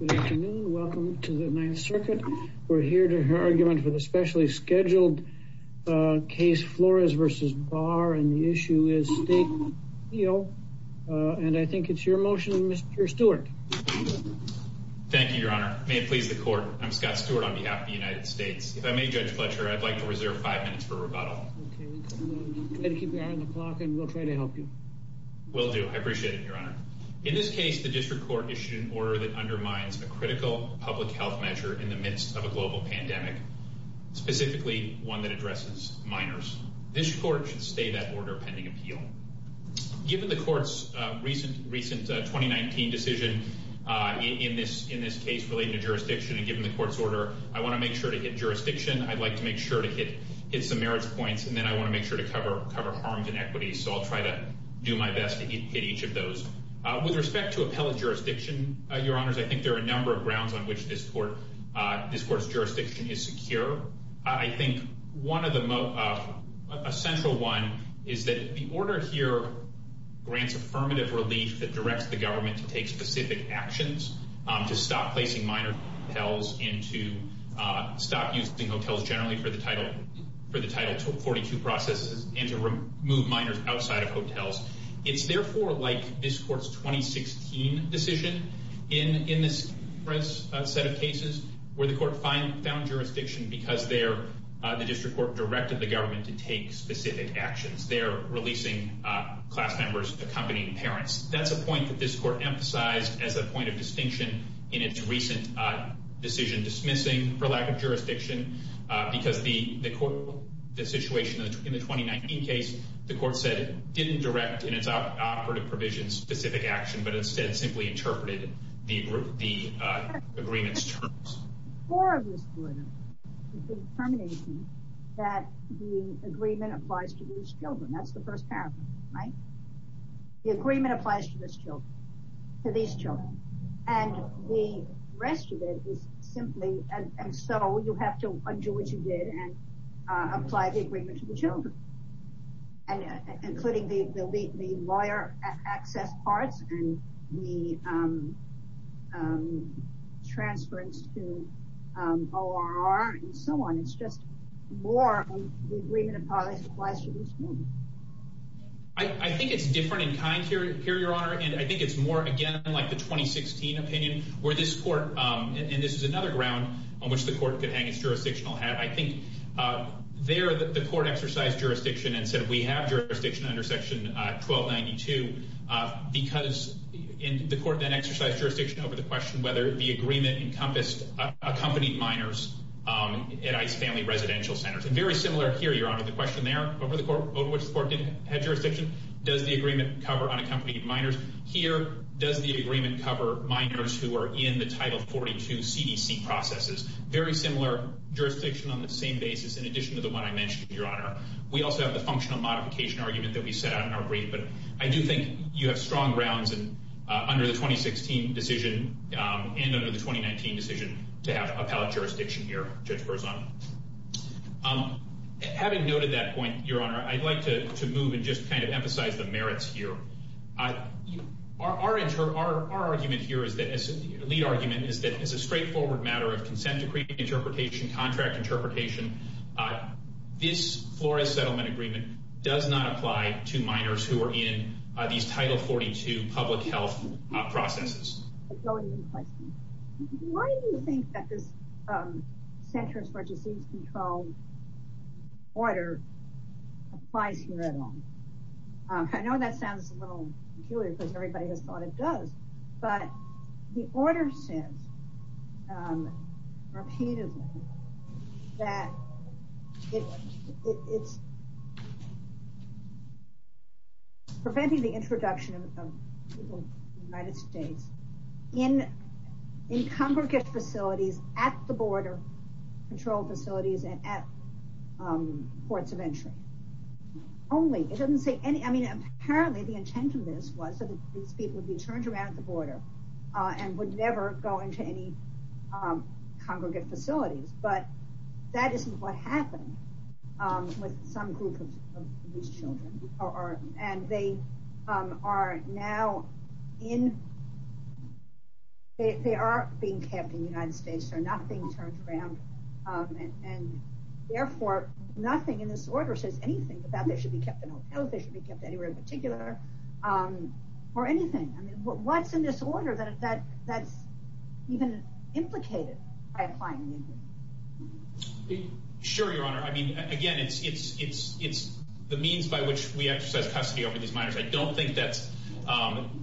Good afternoon, welcome to the Ninth Circuit. We're here to hear argument for the specially scheduled case Flores v. Barr, and the issue is state appeal, and I think it's your motion, Mr. Stewart. Thank you, Your Honor. May it please the Court, I'm Scott Stewart on behalf of the United States. If I may, Judge Fletcher, I'd like to reserve five minutes for rebuttal. Okay, we'll try to keep an eye on the clock and we'll try to help you. Will do. I appreciate it, Your Honor. In this case, the District Court issued an order that undermines a critical public health measure in the midst of a global pandemic, specifically one that addresses minors. This Court should stay that order pending appeal. Given the Court's recent 2019 decision in this case relating to jurisdiction, and given the Court's order, I want to make sure to hit jurisdiction. I'd like to make sure to hit some merits points, and then I want to make sure to cover harms and equities, so I'll try to do my best to hit each of those. With respect to appellate jurisdiction, Your Honors, I think there are a number of grounds on which this Court's jurisdiction is secure. I think a central one is that the order here grants affirmative relief that directs the government to take specific actions to stop placing minor hotels and to stop using hotels generally for the Title 42 processes and to remove minors outside of hotels. It's therefore like this Court's 2016 decision in this set of cases where the Court found jurisdiction because the District Court directed the government to take specific actions. They're releasing class members, accompanying parents. That's a point that this Court emphasized as a point of distinction in its recent decision dismissing for lack of jurisdiction, because the situation in the 2019 case, the Court said it didn't direct in its operative provision specific action, but instead simply interpreted the agreement's terms. The core of this order is the determination that the agreement applies to these children. That's the first paragraph, right? The agreement applies to these children. And the rest of it is simply, and so you have to undo what you did and apply the agreement to the children, including the lawyer access parts and the transference to ORR and so on. It's just more the agreement applies to these children. I think it's different in kind here, Your Honor, and I think it's more, again, like the 2016 opinion where this Court, and this is another ground on which the Court could hang its jurisdictional hat. I think there the Court exercised jurisdiction and said we have jurisdiction under Section 1292 because the Court then exercised jurisdiction over the question whether the agreement encompassed accompanying minors at ICE family residential centers. Very similar here, Your Honor, the question there over which the Court had jurisdiction, does the agreement cover unaccompanied minors? Here, does the agreement cover minors who are in the Title 42 CDC processes? Very similar jurisdiction on the same basis in addition to the one I mentioned, Your Honor. We also have the functional modification argument that we set out in our brief, but I do think you have strong grounds under the 2016 decision and under the 2019 decision to have appellate jurisdiction here, Judge Berzon. Having noted that point, Your Honor, I'd like to move and just kind of emphasize the merits here. Our argument here, our lead argument, is that it's a straightforward matter of consent decree interpretation, contract interpretation. This Flores Settlement Agreement does not apply to minors who are in these Title 42 public health processes. Why do you think that this Centers for Disease Control order applies here at all? I know that sounds a little peculiar because everybody has thought it does. But the order says repeatedly that it's preventing the introduction of people in the United States in congregate facilities, at the border patrol facilities, and at ports of entry. Apparently the intent of this was that these people would be turned around at the border and would never go into any congregate facilities. But that isn't what happened with some group of these children. And they are now in, they are being kept in the United States. They're not being turned around. And therefore, nothing in this order says anything about they should be kept in hotels, they should be kept anywhere in particular, or anything. What's in this order that's even implicated by applying the agreement? Sure, Your Honor. I mean, again, it's the means by which we exercise custody over these minors. I don't think that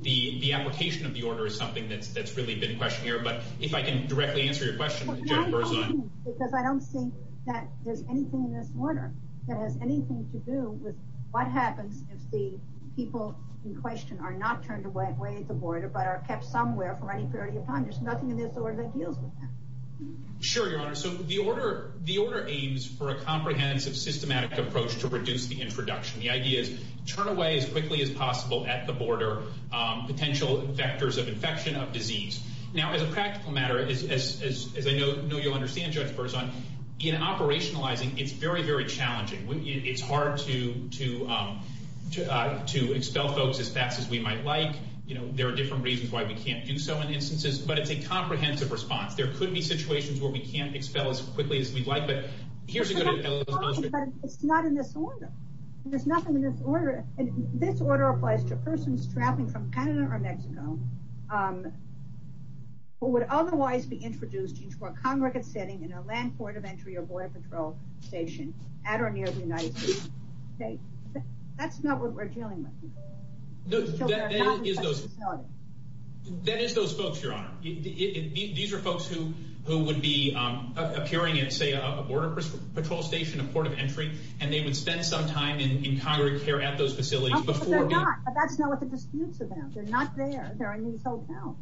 the application of the order is something that's really been questioned here. But if I can directly answer your question, Judge Berzon. Because I don't think that there's anything in this order that has anything to do with what happens if the people in question are not turned away at the border, but are kept somewhere for any period of time. There's nothing in this order that deals with that. Sure, Your Honor. So the order aims for a comprehensive, systematic approach to reduce the introduction. The idea is turn away as quickly as possible at the border potential vectors of infection, of disease. Now, as a practical matter, as I know you understand, Judge Berzon, in operationalizing, it's very, very challenging. It's hard to expel folks as fast as we might like. There are different reasons why we can't do so in instances. But it's a comprehensive response. There could be situations where we can't expel as quickly as we'd like. But here's a good example. But it's not in this order. There's nothing in this order. And this order applies to persons traveling from Canada or Mexico who would otherwise be introduced into a congregate setting in a land port of entry or border patrol station at or near the United States. That's not what we're dealing with. That is those folks, Your Honor. These are folks who would be appearing at, say, a border patrol station, a port of entry, and they would spend some time in congregate care at those facilities before. But they're not. That's not what the dispute's about. They're not there. They're in these hotels.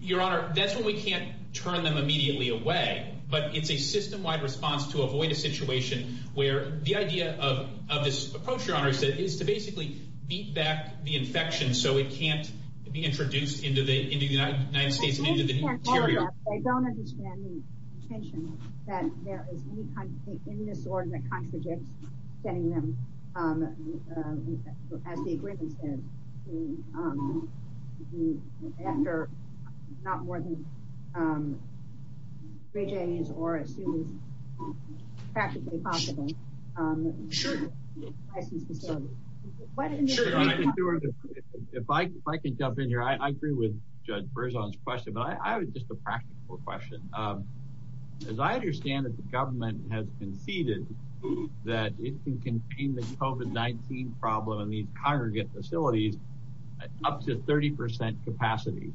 Your Honor, that's when we can't turn them immediately away. But it's a system-wide response to avoid a situation where the idea of this approach, Your Honor, is to basically beat back the infection so it can't be introduced into the United States and into the interior. Your Honor, I don't understand the intention that there is any kind of thing in this order that contradicts getting them, as the agreement says, to do after not more than three days or as soon as practically possible. Sure. License facilities. If I can jump in here, I agree with Judge Berzon's question, but I have just a practical question. As I understand it, the government has conceded that it can contain the COVID-19 problem in these congregate facilities up to 30% capacity.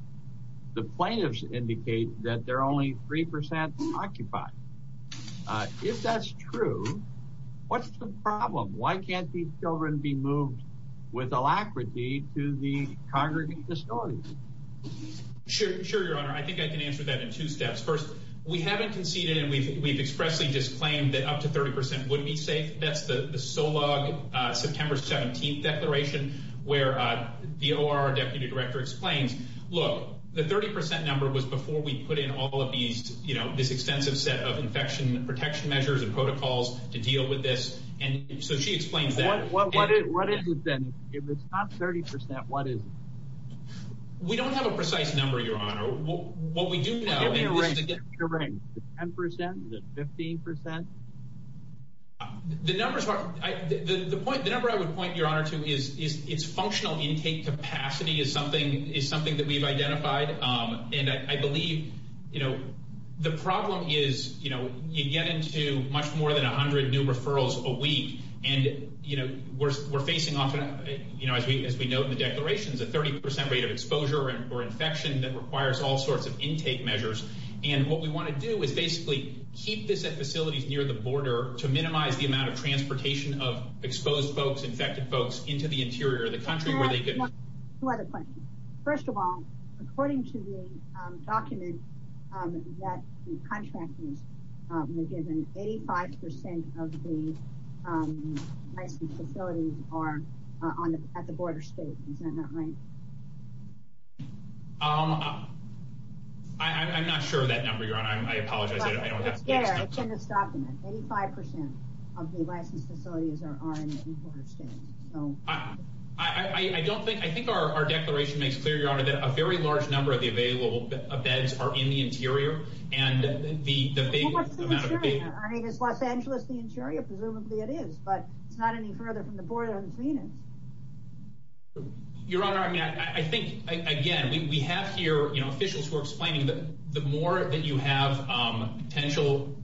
The plaintiffs indicate that they're only 3% occupied. If that's true, what's the problem? Why can't these children be moved with alacrity to the congregate facilities? Sure, Your Honor. I think I can answer that in two steps. First, we haven't conceded and we've expressly just claimed that up to 30% would be safe. That's the SOLOG September 17th declaration, where the OR deputy director explains, look, the 30% number was before we put in all of these, you know, this extensive set of infection protection measures and protocols to deal with this. And so she explains that. What is it then? If it's not 30%, what is it? We don't have a precise number, Your Honor. Give me a rate. Is it 10%? Is it 15%? The number I would point, Your Honor, to is its functional intake capacity is something that we've identified. And I believe, you know, the problem is, you know, you get into much more than 100 new referrals a week. And, you know, we're facing often, you know, as we note in the declarations, a 30% rate of exposure or infection that requires all sorts of intake measures. And what we want to do is basically keep this at facilities near the border to minimize the amount of transportation of exposed folks, infected folks into the interior of the country. Two other questions. First of all, according to the document that the contractors were given, 85% of the licensed facilities are at the border states. Is that not right? I'm not sure of that number, Your Honor. I apologize. It's in this document. 85% of the licensed facilities are in the border states. I don't think, I think our declaration makes clear, Your Honor, that a very large number of the available beds are in the interior. And the big amount of... Well, what's the interior? I mean, is Los Angeles the interior? Presumably it is. But it's not any further from the border than Phoenix. Your Honor, I mean, I think, again, we have here, you know, officials who are explaining that the more that you have potential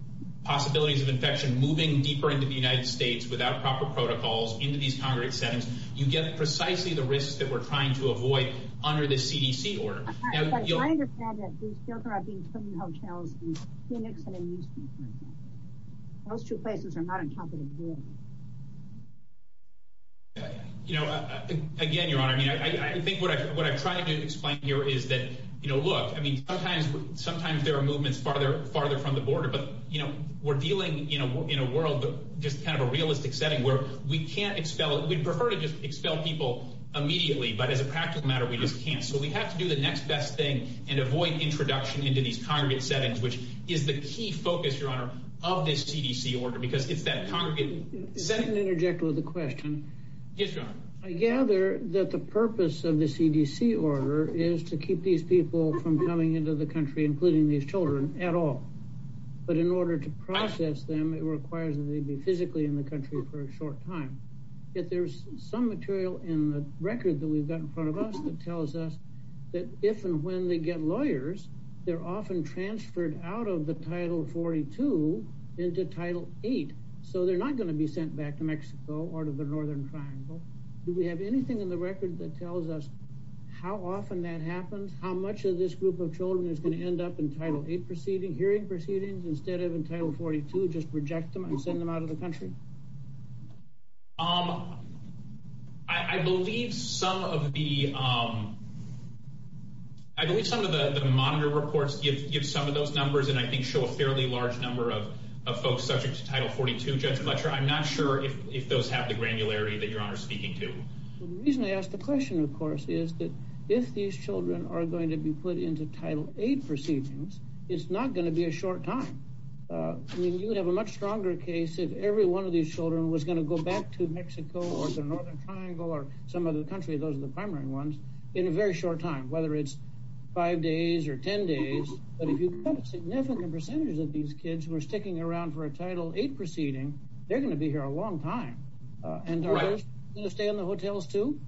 possibilities of infection moving deeper into the United States without proper protocols into these congregate settings, you get precisely the risks that we're trying to avoid under the CDC order. I understand that these children are being put in hotels in Phoenix and in Houston. Those two places are not on top of the board. You know, again, Your Honor, I mean, I think what I'm trying to explain here is that, you know, look, I mean, sometimes there are movements farther from the border. But, you know, we're dealing, you know, in a world, just kind of a realistic setting where we can't expel, we'd prefer to just expel people immediately. But as a practical matter, we just can't. So we have to do the next best thing and avoid introduction into these congregate settings, which is the key focus, Your Honor, of this CDC order because it's that congregate setting. Let me interject with a question. Yes, Your Honor. I gather that the purpose of the CDC order is to keep these people from coming into the country, including these children, at all. But in order to process them, it requires that they be physically in the country for a short time. Yet there's some material in the record that we've got in front of us that tells us that if and when they get lawyers, they're often transferred out of the Title 42 into Title 8. So they're not going to be sent back to Mexico or to the Northern Triangle. Do we have anything in the record that tells us how often that happens? How much of this group of children is going to end up in Title 8 hearing proceedings instead of in Title 42, just reject them and send them out of the country? I believe some of the monitor reports give some of those numbers and I think show a fairly large number of folks subject to Title 42, Judge Fletcher. I'm not sure if those have the granularity that Your Honor is speaking to. The reason I ask the question, of course, is that if these children are going to be put into Title 8 proceedings, it's not going to be a short time. I mean, you would have a much stronger case if every one of these children was going to go back to Mexico or the Northern Triangle or some other country. Those are the primary ones in a very short time, whether it's five days or 10 days. But if you put a significant percentage of these kids who are sticking around for a Title 8 proceeding, they're going to be here a long time. And are those going to stay in the hotels too?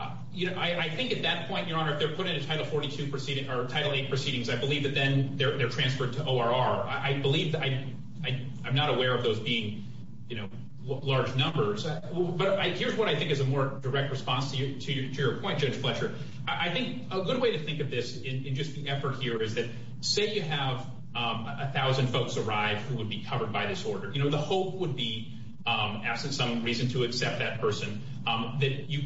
I think at that point, Your Honor, if they're put into Title 8 proceedings, I believe that then they're transferred to ORR. I'm not aware of those being large numbers. But here's what I think is a more direct response to your point, Judge Fletcher. I think a good way to think of this in just the effort here is that say you have 1,000 folks arrive who would be covered by this order. The hope would be, absent some reason to accept that person, that you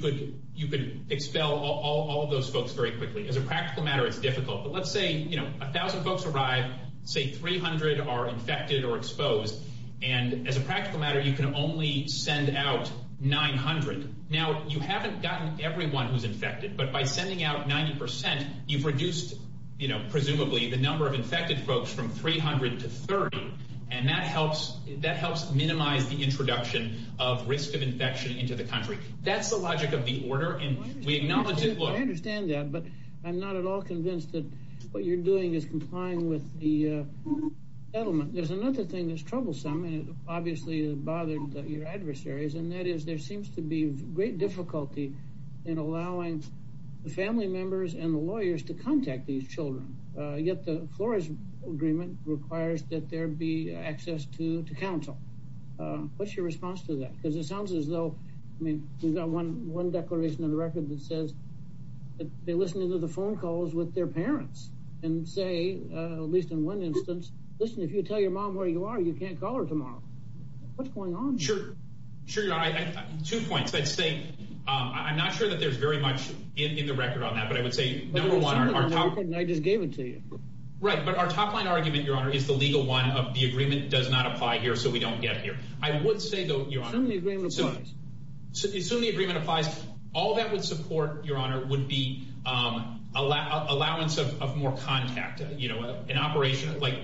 could expel all of those folks very quickly. As a practical matter, it's difficult. But let's say 1,000 folks arrive. Say 300 are infected or exposed. And as a practical matter, you can only send out 900. Now, you haven't gotten everyone who's infected. But by sending out 90%, you've reduced, presumably, the number of infected folks from 300 to 30. And that helps minimize the introduction of risk of infection into the country. That's the logic of the order. And we acknowledge it. I understand that. But I'm not at all convinced that what you're doing is complying with the settlement. There's another thing that's troublesome. And it obviously bothered your adversaries. And that is there seems to be great difficulty in allowing the family members and the lawyers to contact these children. Yet the Flores Agreement requires that there be access to counsel. What's your response to that? Because it sounds as though, I mean, we've got one declaration in the record that says that they listen to the phone calls with their parents. And say, at least in one instance, listen, if you tell your mom where you are, you can't call her tomorrow. What's going on? Sure. Sure, Your Honor. Two points. I'd say I'm not sure that there's very much in the record on that. But I would say, number one. I just gave it to you. Right. But our top line argument, Your Honor, is the legal one of the agreement does not apply here, so we don't get here. I would say, though, Your Honor. Assume the agreement applies. Assume the agreement applies. All that would support, Your Honor, would be allowance of more contact. You know, an operation. Like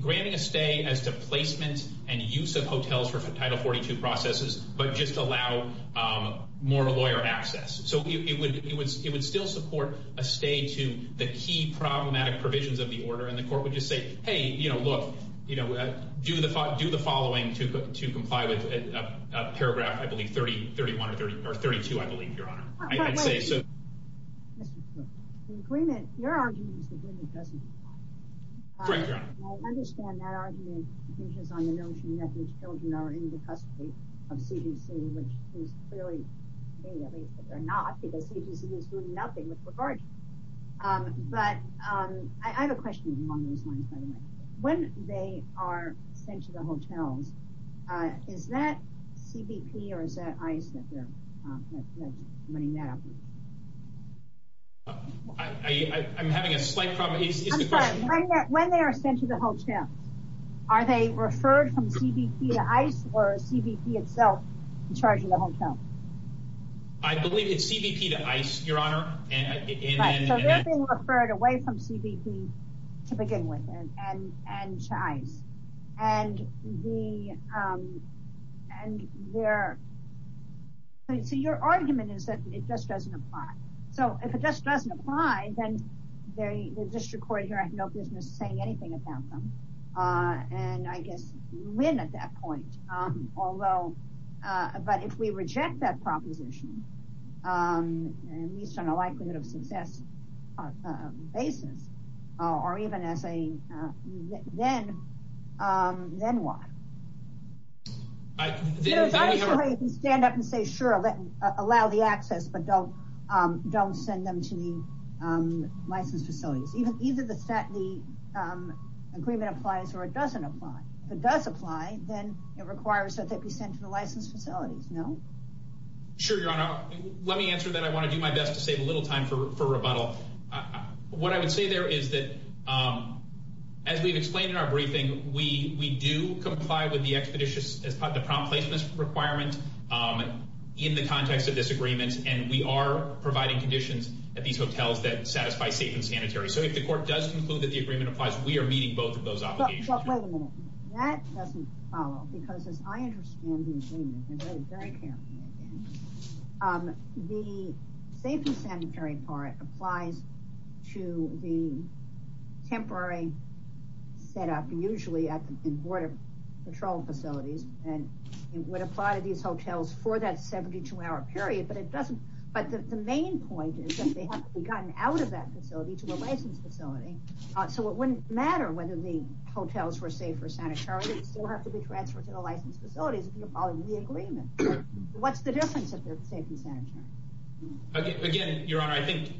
granting a stay as to placement and use of hotels for Title 42 processes, but just allow more lawyer access. So it would still support a stay to the key problematic provisions of the order. And the court would just say, hey, you know, look, do the following to comply with paragraph, I believe, 30, 31, or 32, I believe, Your Honor. Your argument is the agreement doesn't apply. Right, Your Honor. I understand that argument hinges on the notion that these children are in the custody of CDC, which is clearly not, because CDC is doing nothing with regard to them. But I have a question along those lines, by the way. When they are sent to the hotels, is that CBP or is that ICE that's running that? I'm having a slight problem. I'm sorry. When they are sent to the hotels, are they referred from CBP to ICE or CBP itself in charge of the hotel? Right, so they're being referred away from CBP to begin with and to ICE. So your argument is that it just doesn't apply. So if it just doesn't apply, then the district court here has no business saying anything about them. And I guess you win at that point. But if we reject that proposition, at least on a likelihood of success basis, or even as a then, then what? Stand up and say, sure, allow the access, but don't send them to the licensed facilities. Either the agreement applies or it doesn't apply. If it does apply, then it requires that they be sent to the licensed facilities, no? Sure, Your Honor. Let me answer that. I want to do my best to save a little time for rebuttal. What I would say there is that, as we've explained in our briefing, we do comply with the expeditious as part of the prompt placement requirement in the context of this agreement. And we are providing conditions at these hotels that satisfy safe and sanitary. So if the court does conclude that the agreement applies, we are meeting both of those obligations. But wait a minute. That doesn't follow, because as I understand the agreement, and I would very care to read it, the safe and sanitary part applies to the temporary setup, usually at the border patrol facilities. And it would apply to these hotels for that 72-hour period. But the main point is that they have to be gotten out of that facility to a licensed facility. So it wouldn't matter whether the hotels were safe or sanitary. They still have to be transferred to the licensed facilities if you're following the agreement. What's the difference if they're safe and sanitary? Again, Your Honor, I think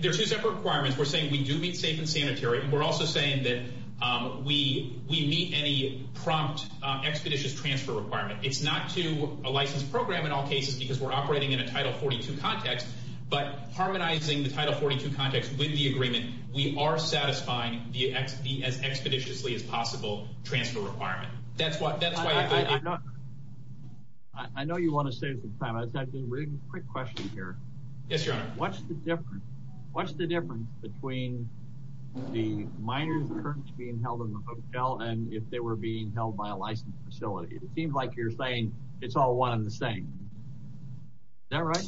there are two separate requirements. We're saying we do meet safe and sanitary. We're also saying that we meet any prompt expeditious transfer requirement. It's not to a licensed program in all cases because we're operating in a Title 42 context. But harmonizing the Title 42 context with the agreement, we are satisfying the as expeditiously as possible transfer requirement. That's why we're doing it. I know you want to save some time. I just have a really quick question here. Yes, Your Honor. What's the difference between the minor's insurance being held in the hotel and if they were being held by a licensed facility? It seems like you're saying it's all one and the same. Is that right?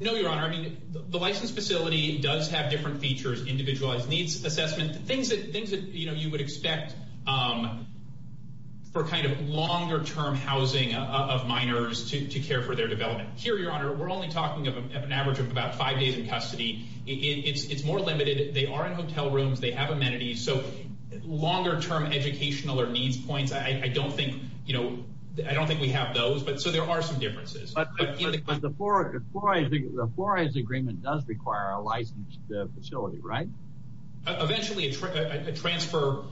No, Your Honor. The licensed facility does have different features, individualized needs assessment, things that you would expect for kind of longer-term housing of minors to care for their development. Here, Your Honor, we're only talking of an average of about five days in custody. It's more limited. They are in hotel rooms. They have amenities. So longer-term educational or needs points, I don't think we have those. So there are some differences. But the Flores Agreement does require a licensed facility, right? Eventually, a transfer,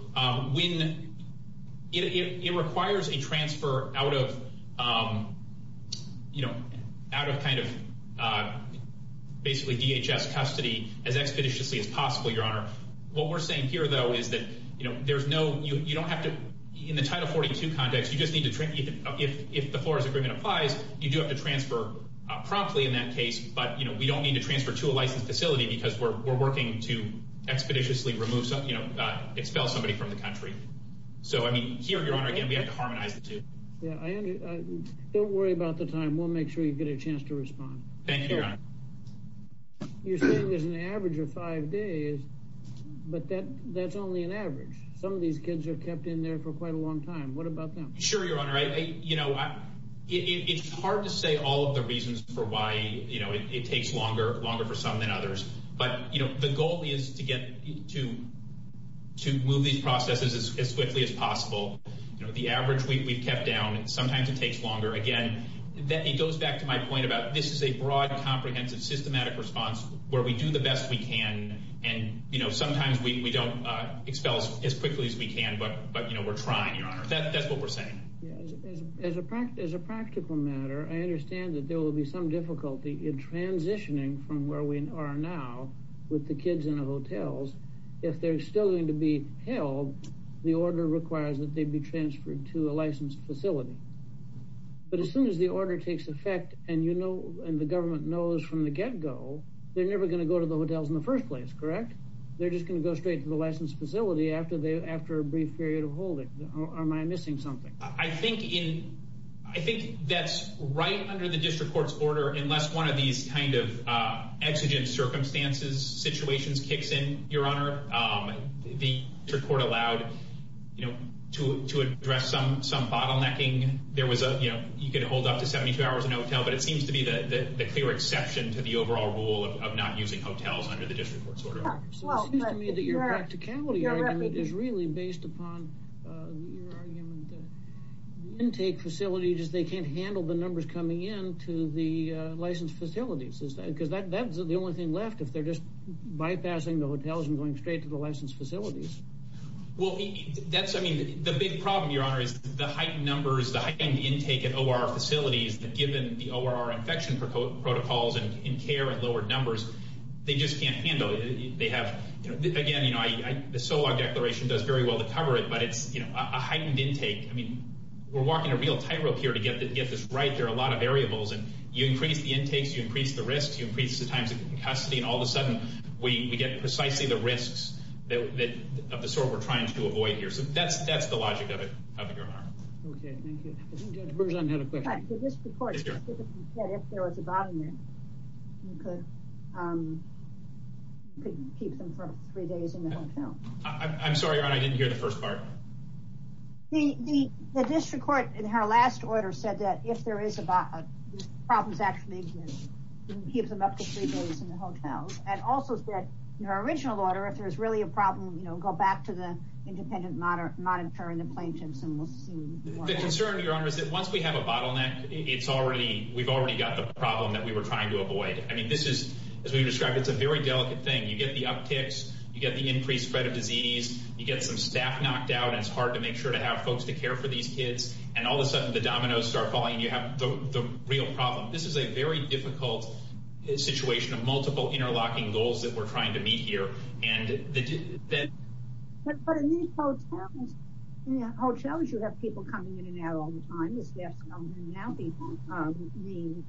it requires a transfer out of kind of basically DHS custody as expeditiously as possible, Your Honor. What we're saying here, though, is that you don't have to, in the Title 42 context, if the Flores Agreement applies, you do have to transfer promptly in that case, but we don't need to transfer to a licensed facility because we're working to expeditiously expel somebody from the country. So, I mean, here, Your Honor, again, we have to harmonize the two. Don't worry about the time. We'll make sure you get a chance to respond. Thank you, Your Honor. You're saying there's an average of five days, but that's only an average. Some of these kids are kept in there for quite a long time. What about them? Sure, Your Honor. It's hard to say all of the reasons for why it takes longer, longer for some than others, but the goal is to move these processes as quickly as possible. The average we've kept down, sometimes it takes longer. Again, it goes back to my point about this is a broad, comprehensive, systematic response where we do the best we can, and sometimes we don't expel as quickly as we can, but, you know, we're trying, Your Honor. That's what we're saying. As a practical matter, I understand that there will be some difficulty in transitioning from where we are now with the kids in the hotels. If they're still going to be held, the order requires that they be transferred to a licensed facility. But as soon as the order takes effect and the government knows from the get-go, they're never going to go to the hotels in the first place, correct? They're just going to go straight to the licensed facility after a brief period of holding. Am I missing something? I think that's right under the district court's order unless one of these kind of exigent circumstances, situations kicks in, Your Honor. The district court allowed to address some bottlenecking. There was a, you know, you could hold up to 72 hours in a hotel, but it seems to be the clear exception to the overall rule of not using hotels under the district court's order. It seems to me that your practicality argument is really based upon your argument that intake facilities, they can't handle the numbers coming in to the licensed facilities, because that's the only thing left if they're just bypassing the hotels and going straight to the licensed facilities. Well, that's, I mean, the big problem, Your Honor, is the heightened numbers, the heightened intake at OR facilities that given the OR infection protocols and care and lower numbers, they just can't handle it. They have, again, you know, the SOLOG declaration does very well to cover it, but it's, you know, a heightened intake. I mean, we're walking a real tightrope here to get this right. There are a lot of variables, and you increase the intakes, you increase the risks, you increase the times of custody, and all of a sudden we get precisely the risks of the sort we're trying to avoid here. So that's the logic of it, Your Honor. Okay, thank you. I think Judge Berzon had a question. The district court specifically said if there was a bottoming, you could keep them for three days in the hotel. I'm sorry, Your Honor, I didn't hear the first part. The district court in her last order said that if there is a bottoming, the problem is actually you can keep them up to three days in the hotels, and also said in her original order if there's really a problem, you know, I'll go back to the independent monitor and the plaintiffs, and we'll see what happens. The concern, Your Honor, is that once we have a bottleneck, we've already got the problem that we were trying to avoid. I mean, this is, as we've described, it's a very delicate thing. You get the upticks, you get the increased spread of disease, you get some staff knocked out, and it's hard to make sure to have folks to care for these kids, and all of a sudden the dominoes start falling, and you have the real problem. This is a very difficult situation of multiple interlocking goals that we're trying to meet here, but in these hotels, you have people coming in and out all the time, the staff's coming in and out, the cleaning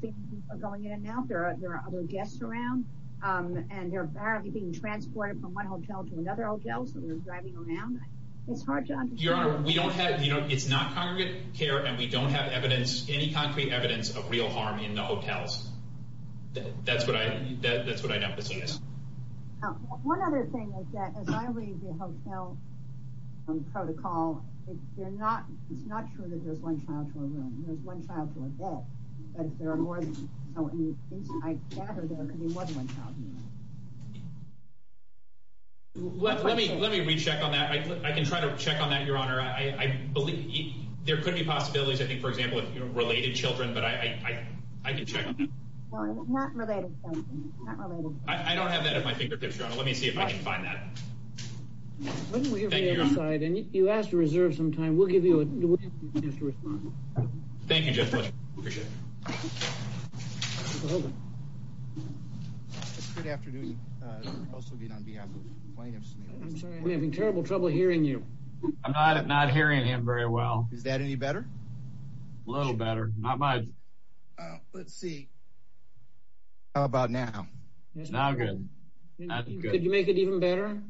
people are going in and out, there are other guests around, and they're apparently being transported from one hotel to another hotel, so they're driving around. It's hard to understand. Your Honor, we don't have, you know, it's not congregate care, and we don't have evidence, any concrete evidence of real harm in the hotels. That's what I'd emphasize. One other thing is that, as I read the hotel protocol, it's not true that there's one child to a room, there's one child to a bed, but if there are more than one, I gather there could be more than one child. Let me recheck on that. I can try to check on that, Your Honor. I believe there could be possibilities, I think, for example, of related children, but I can check on that. No, it's not related. I don't have that at my fingertips, Your Honor. Let me see if I can find that. Thank you, Your Honor. And if you ask to reserve some time, we'll give you a chance to respond. Thank you, Judge Fletcher. Appreciate it. We're having terrible trouble hearing you. I'm not hearing him very well. Is that any better? A little better. Not much. Let's see. How about now? It's now good. Could you make it even better?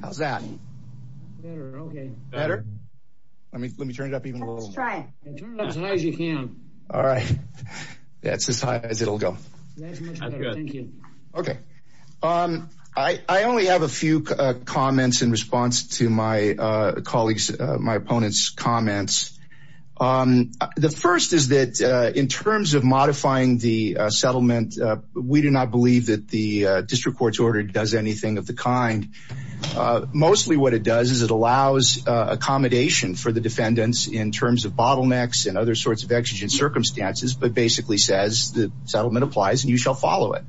How's that? Better, okay. Better? Let me turn it up even a little. Let's try it. Turn it up as high as you can. All right. That's as high as it'll go. That's good. Thank you. Okay. I only have a few comments in response to my opponent's comments. The first is that in terms of modifying the settlement, we do not believe that the district court's order does anything of the kind. Mostly what it does is it allows accommodation for the defendants in terms of bottlenecks and other sorts of exigent circumstances, but basically says the settlement applies and you shall follow it.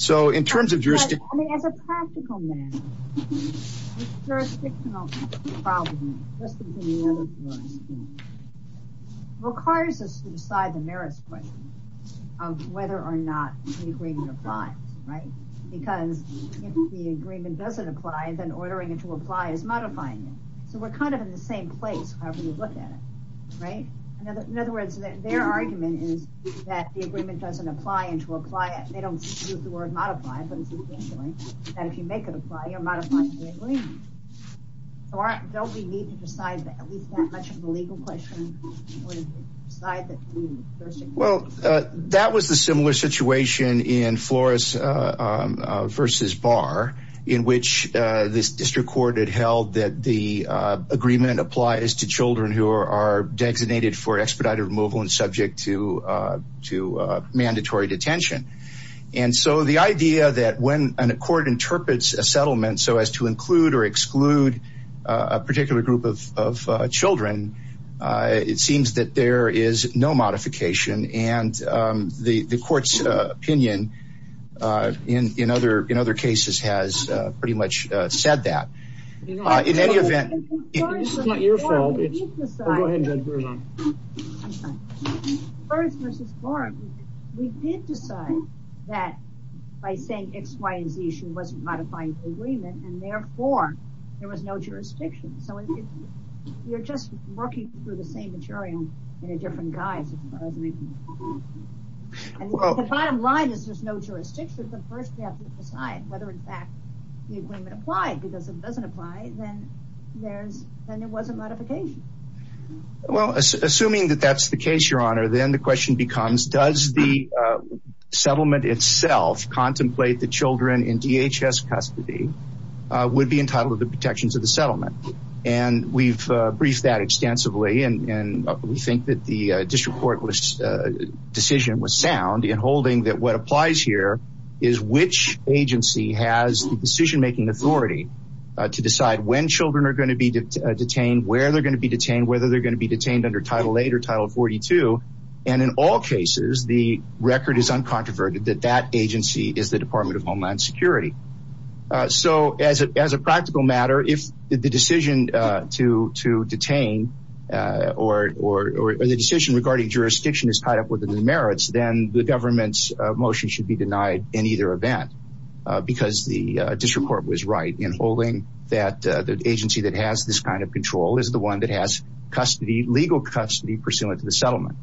So in terms of jurisdiction. As a practical matter, jurisdictional problems, just as any other jurisdiction, requires us to decide the merits question of whether or not the agreement applies, right? Because if the agreement doesn't apply, then ordering it to apply is modifying it. So we're kind of in the same place however you look at it, right? In other words, their argument is that the agreement doesn't apply and to apply it. They don't use the word modify, but it's essentially that if you make it apply, you're modifying the agreement. So don't we need to decide at least that much of the legal question? Well, that was the similar situation in Flores versus Barr, in which this district court had held that the agreement applies to children who are designated for expedited removal and subject to mandatory detention. And so the idea that when a court interprets a settlement, so as to include or exclude a particular group of children, it seems that there is no modification. And the court's opinion in other cases has pretty much said that. In any event, it's not your fault, it's, go ahead Judge Berzon. I'm sorry. Flores versus Barr, we did decide that by saying X, Y, and Z, she wasn't modifying the agreement and therefore there was no jurisdiction. So you're just working through the same material in a different guise. The bottom line is there's no jurisdiction, but first we have to decide whether in fact the agreement applied, because if it doesn't apply, then there was a modification. Well, assuming that that's the case, Your Honor, then the question becomes, does the settlement itself contemplate the children in DHS custody, would be entitled to the protections of the settlement? And we've briefed that extensively, and we think that the district court decision was sound in holding that what applies here, is which agency has the decision-making authority to decide when children are going to be detained, where they're going to be detained, whether they're going to be detained under Title 8 or Title 42. And in all cases, the record is uncontroverted that that agency is the Department of Homeland Security. So as a practical matter, if the decision to detain or the decision regarding jurisdiction is tied up with the merits, then the government's motion should be denied in either event, because the district court was right in holding that the agency that has this kind of control is the one that has legal custody pursuant to the settlement.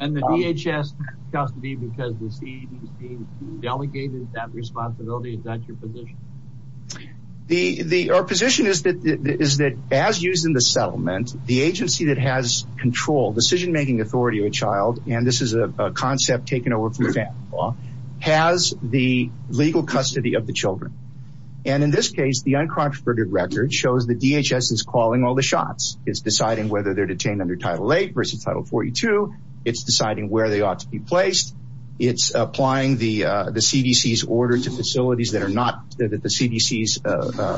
And the DHS custody because the CDC delegated that responsibility, is that your position? Our position is that as used in the settlement, decision-making authority of a child, and this is a concept taken over from a family law, has the legal custody of the children. And in this case, the uncontroverted record shows the DHS is calling all the shots. It's deciding whether they're detained under Title 8 versus Title 42. It's deciding where they ought to be placed. It's applying the CDC's order to facilities that are not, that the CDC's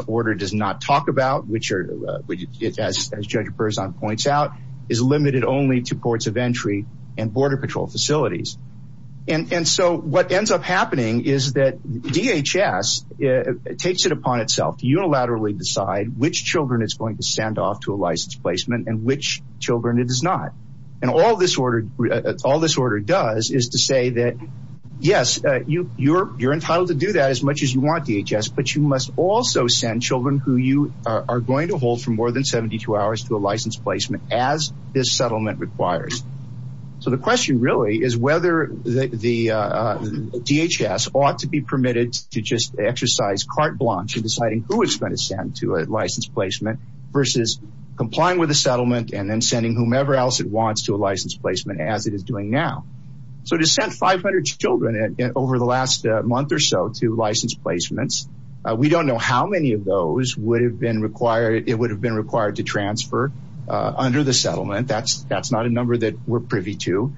order does not talk about, as Judge Berzon points out, is limited only to ports of entry and border patrol facilities. And so what ends up happening is that DHS takes it upon itself to unilaterally decide which children it's going to send off to a license placement and which children it does not. And all this order does is to say that, yes, you're entitled to do that as much as you want, DHS, but you must also send children who you are going to hold for more than 72 hours to a license placement as this settlement requires. So the question really is whether the DHS ought to be permitted to just exercise carte blanche in deciding who it's going to send to a license placement versus complying with the settlement and then sending whomever else it wants to a license placement as it is doing now. So to send 500 children over the last month or so to license placements, we don't know how many of those it would have been required to transfer under the settlement. That's not a number that we're privy to.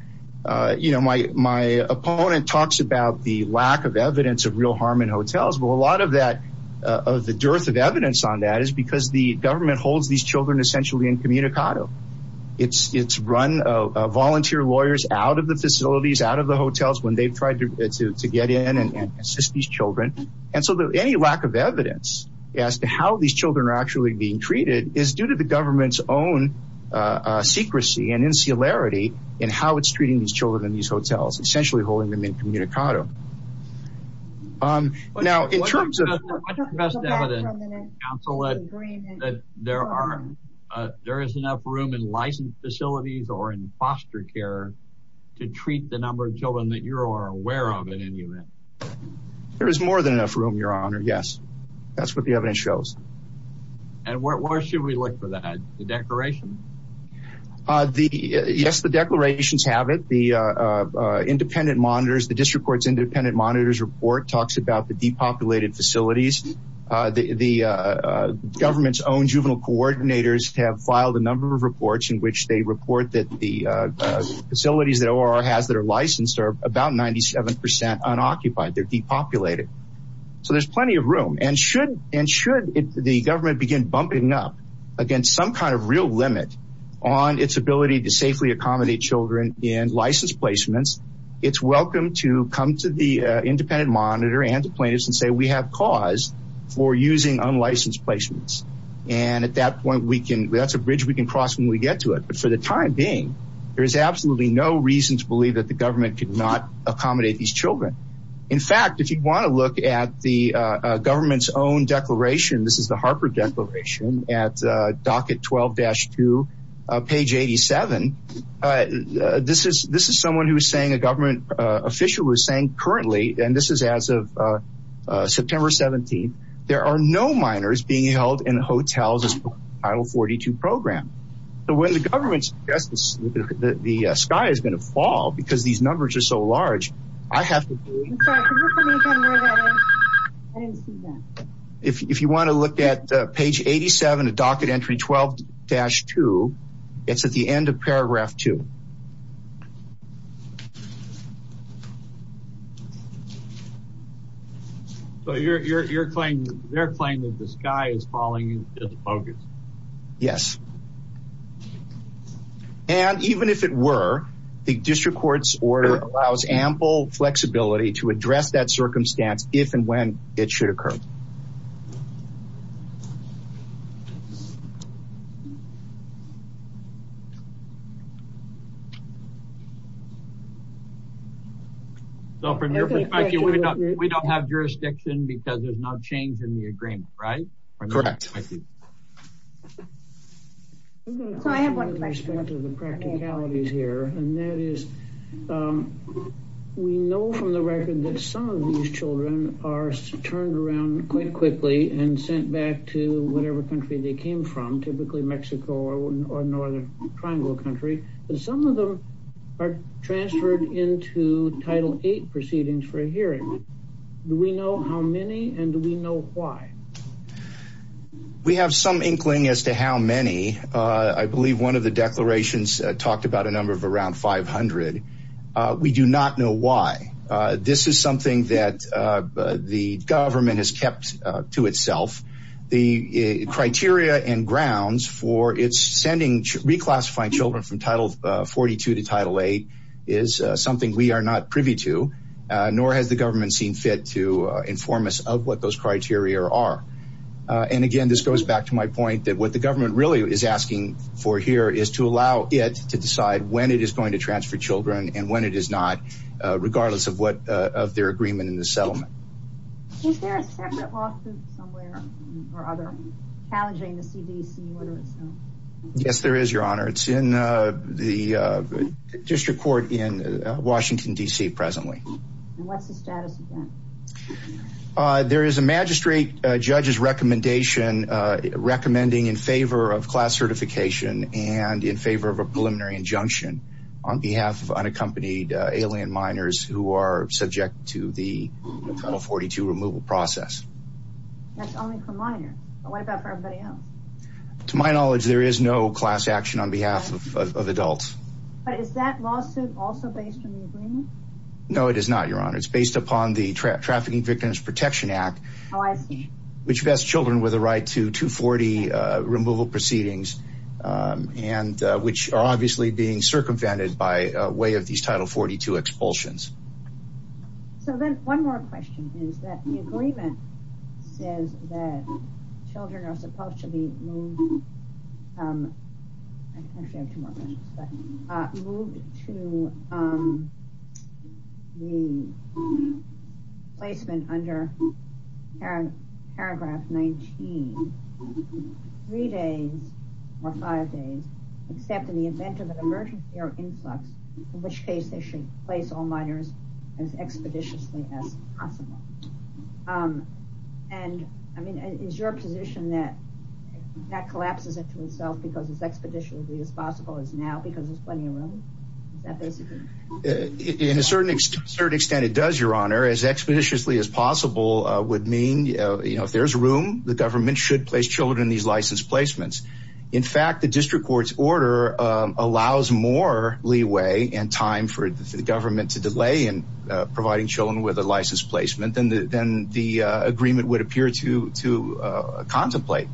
You know, my opponent talks about the lack of evidence of real harm in hotels, but a lot of the dearth of evidence on that is because the government holds these children essentially incommunicado. It's run volunteer lawyers out of the facilities, out of the hotels when they've tried to get in and assist these children. And so any lack of evidence as to how these children are actually being treated is due to the government's own secrecy and insularity in how it's treating these children in these hotels, essentially holding them incommunicado. Now, in terms of... What's the best evidence, Counsel, that there is enough room in licensed facilities or in foster care to treat the number of children that you are aware of in any event? There is more than enough room, Your Honor, yes. That's what the evidence shows. And where should we look for that? The declaration? Yes, the declarations have it. The independent monitors, the district court's independent monitors report talks about the depopulated facilities. The government's own juvenile coordinators have filed a number of reports in which they report that the facilities that ORR has that are licensed are about 97% unoccupied. They're depopulated. So there's plenty of room. And should the government begin bumping up against some kind of real limit on its ability to safely accommodate children in licensed placements, it's welcome to come to the independent monitor and the plaintiffs and say we have cause for using unlicensed placements. And at that point, that's a bridge we can cross when we get to it. But for the time being, there is absolutely no reason to believe that the government could not accommodate these children. In fact, if you want to look at the government's own declaration, this is the Harper Declaration at docket 12-2, page 87. This is someone who is saying, a government official who is saying currently, and this is as of September 17th, there are no minors being held in hotels as part of the Title 42 program. So when the government suggests that the sky is going to fall because these numbers are so large, I have to believe. I'm sorry, could you put me again where that is? I didn't see that. If you want to look at page 87 at docket entry 12-2, it's at the end of paragraph 2. So they're claiming that the sky is falling into focus. Yes. And even if it were, the district court's order allows ample flexibility to address that circumstance if and when it should occur. So from your perspective, we don't have jurisdiction because there's no change in the agreement, right? Correct. So I have one question to the practicalities here, and that is we know from the record that some of these children are turned around quite quickly and sent back to whatever country they came from, typically Mexico or Northern Triangle country, but some of them are transferred into Title 8 proceedings for a hearing. Do we know how many, and do we know why? We have some inkling as to how many. I believe one of the declarations talked about a number of around 500. We do not know why. This is something that the government has kept to itself. The criteria and grounds for its reclassifying children from Title 42 to Title 8 is something we are not privy to, nor has the government seen fit to inform us of what those criteria are. And again, this goes back to my point that what the government really is asking for here is to allow it to decide when it is going to transfer children and when it is not, regardless of their agreement in the settlement. Yes, there is, Your Honor. It's in the district court in Washington, D.C. presently. And what's the status of that? There is a magistrate judge's recommendation recommending in favor of class certification and in favor of a preliminary injunction on behalf of unaccompanied alien minors who are subject to the Title 42 removal process. That's only for minors, but what about for everybody else? To my knowledge, there is no class action on behalf of adults. But is that lawsuit also based on the agreement? No, it is not, Your Honor. It's based upon the Trafficking Victims Protection Act, which vests children with a right to 240 removal proceedings, which are obviously being circumvented by way of these Title 42 expulsions. So then one more question is that the agreement says that children are supposed to be moved Actually, I have two more questions. Moved to the placement under Paragraph 19 three days or five days, except in the event of an emergency or influx, in which case they should place all minors as expeditiously as possible. And is your position that that collapses into itself because as expeditiously as possible is now because there's plenty of room? In a certain extent, it does, Your Honor. As expeditiously as possible would mean if there's room, the government should place children in these license placements. In fact, the district court's order allows more leeway and time for the government to delay in providing children with a license placement than the agreement would appear to contemplate.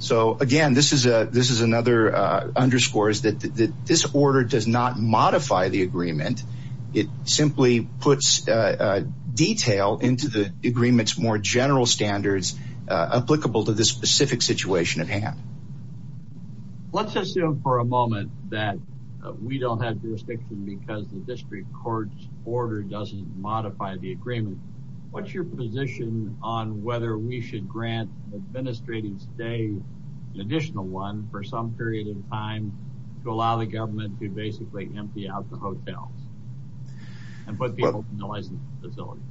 So, again, this is another underscore, is that this order does not modify the agreement. It simply puts detail into the agreement's more general standards applicable to this specific situation at hand. Let's assume for a moment that we don't have jurisdiction because the district court's order doesn't modify the agreement. What's your position on whether we should grant an administrative stay, an additional one, for some period of time to allow the government to basically empty out the hotels and put people in the license facilities?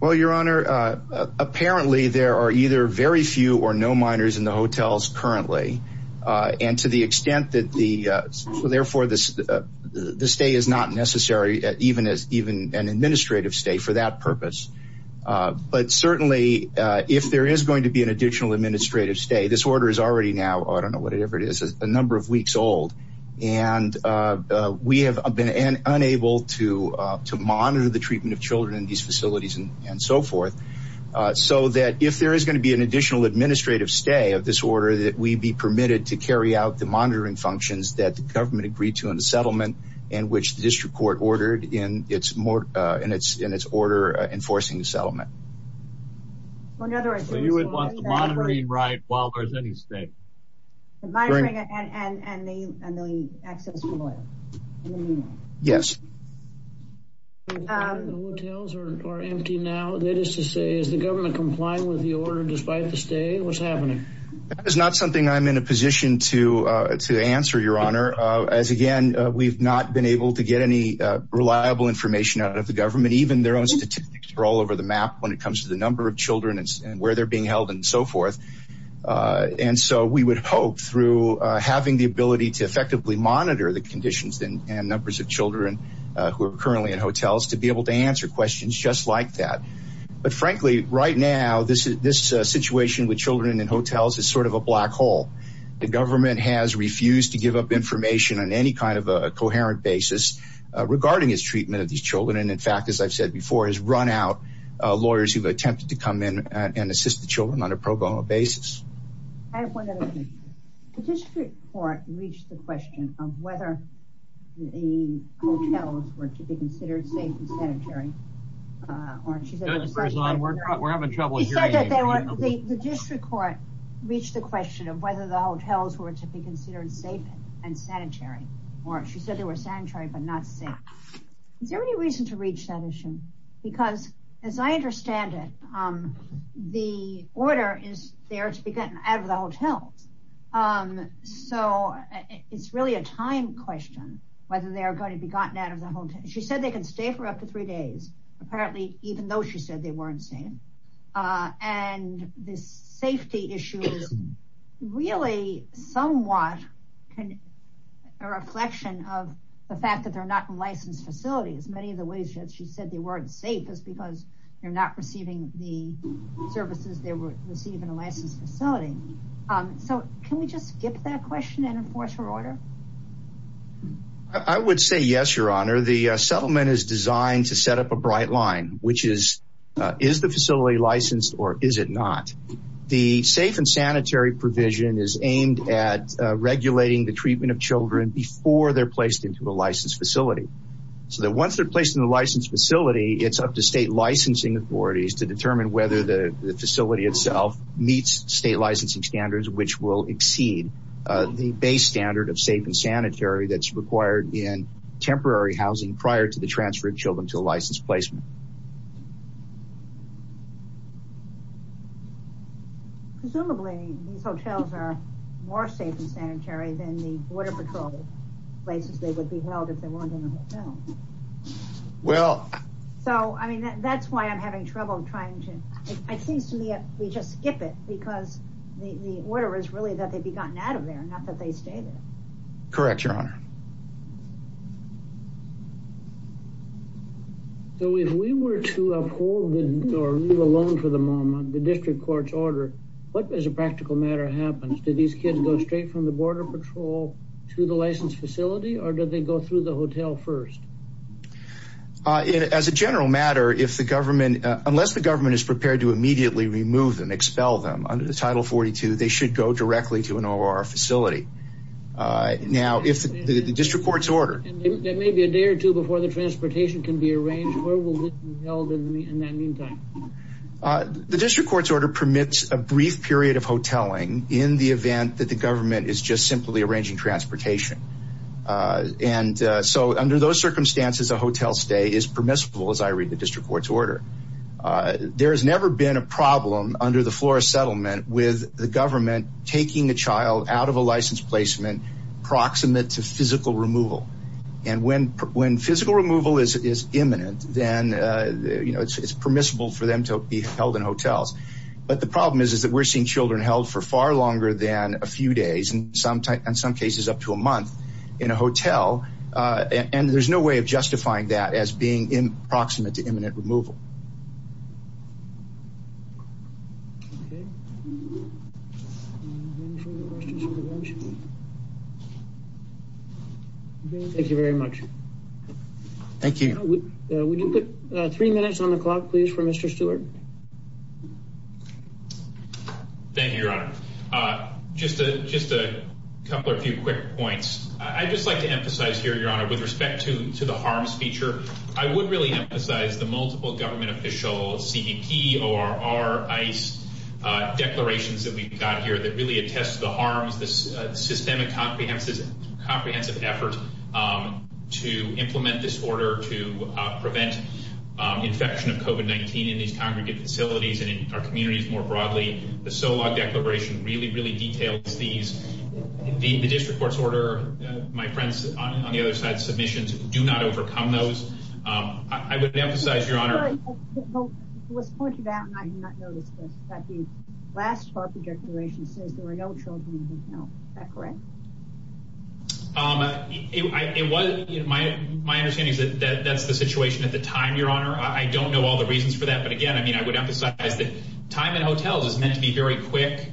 Well, Your Honor, apparently there are either very few or no minors in the hotels currently. And to the extent that the, therefore, the stay is not necessary, even an administrative stay for that purpose. But certainly if there is going to be an additional administrative stay, this order is already now, I don't know whatever it is, a number of weeks old. And we have been unable to monitor the treatment of children in these facilities and so forth. So that if there is going to be an additional administrative stay of this order that we be permitted to carry out the monitoring functions that the government agreed to in the settlement and which the district court ordered in its order enforcing the settlement. So you would want the monitoring right while there's any stay? The monitoring and the access to the hotel. Yes. The hotels are empty now. That is to say, is the government complying with the order despite the stay? What's happening? That is not something I'm in a position to answer, Your Honor. As again, we've not been able to get any reliable information out of the government. Even their own statistics are all over the map when it comes to the number of children and where they're being held and so forth. And so we would hope through having the ability to effectively monitor the conditions and numbers of children who are currently in hotels to be able to answer questions just like that. But frankly, right now, this situation with children in hotels is sort of a black hole. The government has refused to give up information on any kind of a coherent basis regarding its treatment of these children. And in fact, as I've said before, has run out lawyers who've attempted to come in and assist the children on a pro bono basis. I have one other thing. The district court reached the question of whether the hotels were to be considered safe and sanitary. Judge Berzon, we're having trouble hearing you. The district court reached the question of whether the hotels were to be considered safe and sanitary. She said they were sanitary but not safe. Is there any reason to reach that issue? Because as I understand it, the order is there to be gotten out of the hotels. So it's really a time question whether they are going to be gotten out of the hotels. She said they can stay for up to three days. Apparently, even though she said they weren't safe. And this safety issue is really somewhat a reflection of the fact that they're not in licensed facilities. Many of the ways that she said they weren't safe is because they're not receiving the services they would receive in a licensed facility. So can we just skip that question and enforce her order? I would say yes, Your Honor. The settlement is designed to set up a bright line, which is, is the facility licensed or is it not? The safe and sanitary provision is aimed at regulating the treatment of children before they're placed into a licensed facility. So that once they're placed in the licensed facility, it's up to state licensing authorities to determine whether the facility itself meets state licensing standards, which will exceed the base standard of safe and sanitary that's required in temporary housing prior to the transfer of children to a licensed placement. Presumably, these hotels are more safe and sanitary than the border patrol places they would be held if they weren't in a hotel. Well... So, I mean, that's why I'm having trouble trying to... It seems to me that we just skip it because the order is really that they be gotten out of there, not that they stay there. Correct, Your Honor. So if we were to uphold or leave alone for the moment the district court's order, what as a practical matter happens? Do these kids go straight from the border patrol to the licensed facility or do they go through the hotel first? As a general matter, if the government... Unless the government is prepared to immediately remove them, expel them under the Title 42, they should go directly to an OR facility. Now, if the district court's order... There may be a day or two before the transportation can be arranged. Where will they be held in that meantime? The district court's order permits a brief period of hoteling in the event that the government is just simply arranging transportation. And so under those circumstances, a hotel stay is permissible, as I read the district court's order. There has never been a problem under the Flores Settlement with the government taking a child out of a licensed placement proximate to physical removal. And when physical removal is imminent, then it's permissible for them to be held in hotels. But the problem is that we're seeing children held for far longer than a few days, in some cases up to a month, in a hotel. And there's no way of justifying that as being proximate to imminent removal. Thank you very much. Thank you. Would you put three minutes on the clock, please, for Mr. Stewart? Thank you, Your Honor. Just a couple or a few quick points. I'd just like to emphasize here, Your Honor, with respect to the harms feature, I would really emphasize the multiple government official CBP, ORR, ICE declarations that we've got here that really attest to the harms, this systemic comprehensive effort to implement this order to prevent infection of COVID-19 in these congregate facilities and in our communities more broadly. The SOLOG declaration really, really details these. The district court's order, my friends on the other side's submissions, do not overcome those. I would emphasize, Your Honor... It was pointed out, and I did not notice this, that the last FARPA declaration says there are no children in hotels. Is that correct? My understanding is that that's the situation at the time, Your Honor. I don't know all the reasons for that. But again, I would emphasize that time in hotels is meant to be very quick.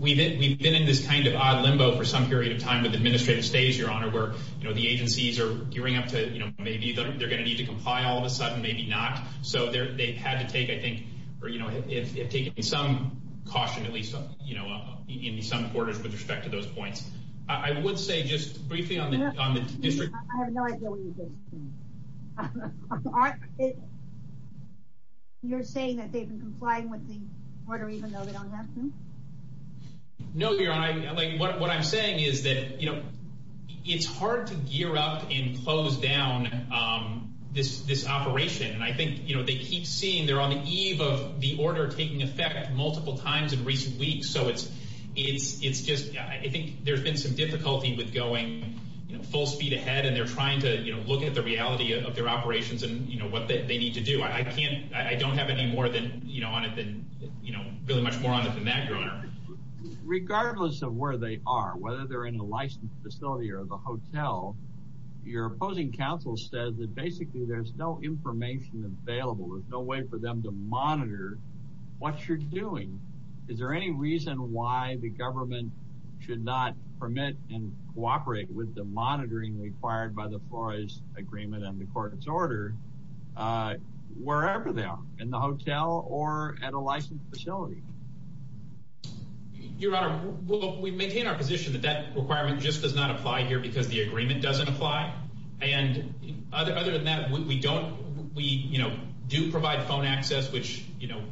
We've been in this kind of odd limbo for some period of time with administrative stays, Your Honor, where the agencies are gearing up to maybe they're going to need to comply all of a sudden, maybe not. So they've had to take, I think, or have taken some caution, at least in some quarters, with respect to those points. I would say just briefly on the district court... I have no idea what you're getting at. You're saying that they've been complying with the order even though they don't have to? No, Your Honor. What I'm saying is that it's hard to gear up and close down this operation. And I think they keep seeing they're on the eve of the order taking effect multiple times in recent weeks. So it's just... I think there's been some difficulty with going full speed ahead, and they're trying to look at the reality of their operations and what they need to do. I don't have any more on it than... really much more on it than that, Your Honor. Regardless of where they are, whether they're in a licensed facility or the hotel, your opposing counsel says that basically there's no information available. There's no way for them to monitor what you're doing. Is there any reason why the government should not permit and cooperate with the monitoring required by the Flores Agreement and the court's order wherever they are, in the hotel or at a licensed facility? Your Honor, we maintain our position that that requirement just does not apply here because the agreement doesn't apply. And other than that, we do provide phone access, which, you know,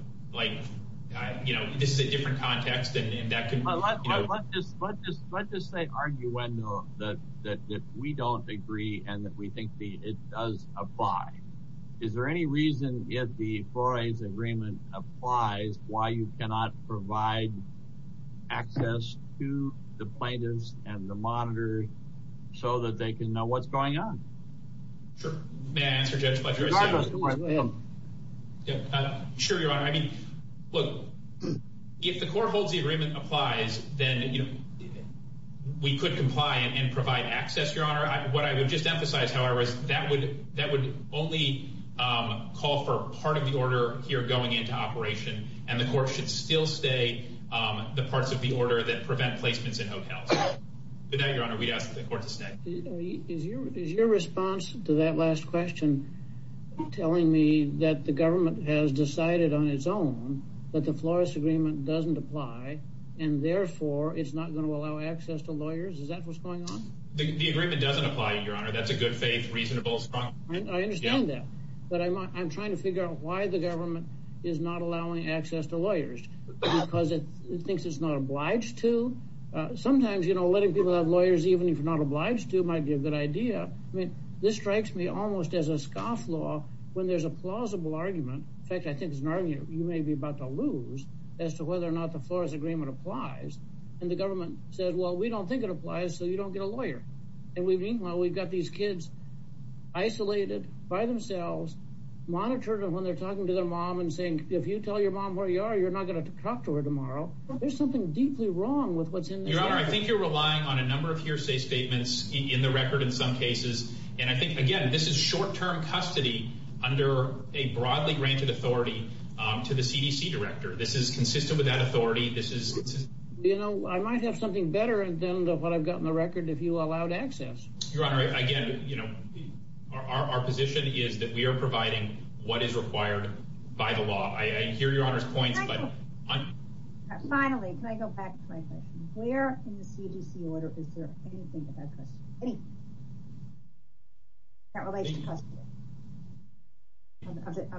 this is a different context. Let's just say arguendo that we don't agree and that we think it does apply. Is there any reason if the Flores Agreement applies why you cannot provide access to the plaintiffs and the monitors so that they can know what's going on? Sure. May I answer, Judge Fletcher? Go ahead. Sure, Your Honor. I mean, look, if the court holds the agreement applies, then we could comply and provide access, Your Honor. What I would just emphasize, however, is that would only call for part of the order here going into operation, and the court should still stay the parts of the order that prevent placements in hotels. But no, Your Honor, we'd ask the court to stay. Is your response to that last question telling me that the government has decided on its own that the Flores Agreement doesn't apply and, therefore, it's not going to allow access to lawyers? Is that what's going on? The agreement doesn't apply, Your Honor. That's a good faith, reasonable, strong argument. I understand that. But I'm trying to figure out why the government is not allowing access to lawyers. Because it thinks it's not obliged to? Sometimes, you know, letting people have lawyers even if they're not obliged to might be a good idea. I mean, this strikes me almost as a scoff law when there's a plausible argument. In fact, I think it's an argument you may be about to lose as to whether or not the Flores Agreement applies. And the government says, well, we don't think it applies so you don't get a lawyer. And meanwhile, we've got these kids isolated by themselves, monitored when they're talking to their mom and saying, if you tell your mom where you are, you're not going to talk to her tomorrow. There's something deeply wrong with what's in this record. Your Honor, I think you're relying on a number of hearsay statements in the record in some cases. And I think, again, this is short-term custody under a broadly granted authority to the CDC director. This is consistent with that authority. You know, I might have something better than what I've got in the record if you allowed access. Your Honor, again, you know, our position is that we are providing what is required by the law. I hear Your Honor's points, but... Finally, can I go back to my question? Where in the CDC order is there anything about custody? Any relation to custody?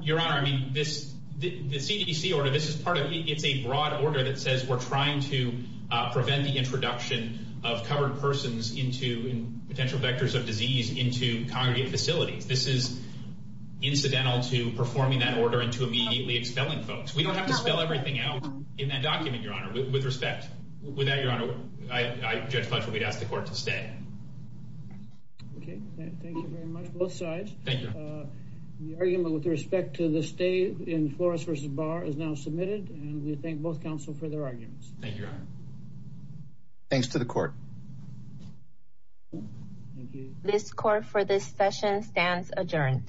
Your Honor, I mean, the CDC order, this is part of it. It's a broad order that says we're trying to prevent the introduction of covered persons into potential vectors of disease into congregate facilities. This is incidental to performing that order and to immediately expelling folks. We don't have to spell everything out in that document, Your Honor, with respect. With that, Your Honor, Judge Fletcher, we'd ask the court to stay. Okay, thank you very much, both sides. Thank you. The argument with respect to the stay in Flores v. Barr is now submitted, and we thank both counsel for their arguments. Thank you, Your Honor. Thanks to the court. Thank you. This court for this session stands adjourned.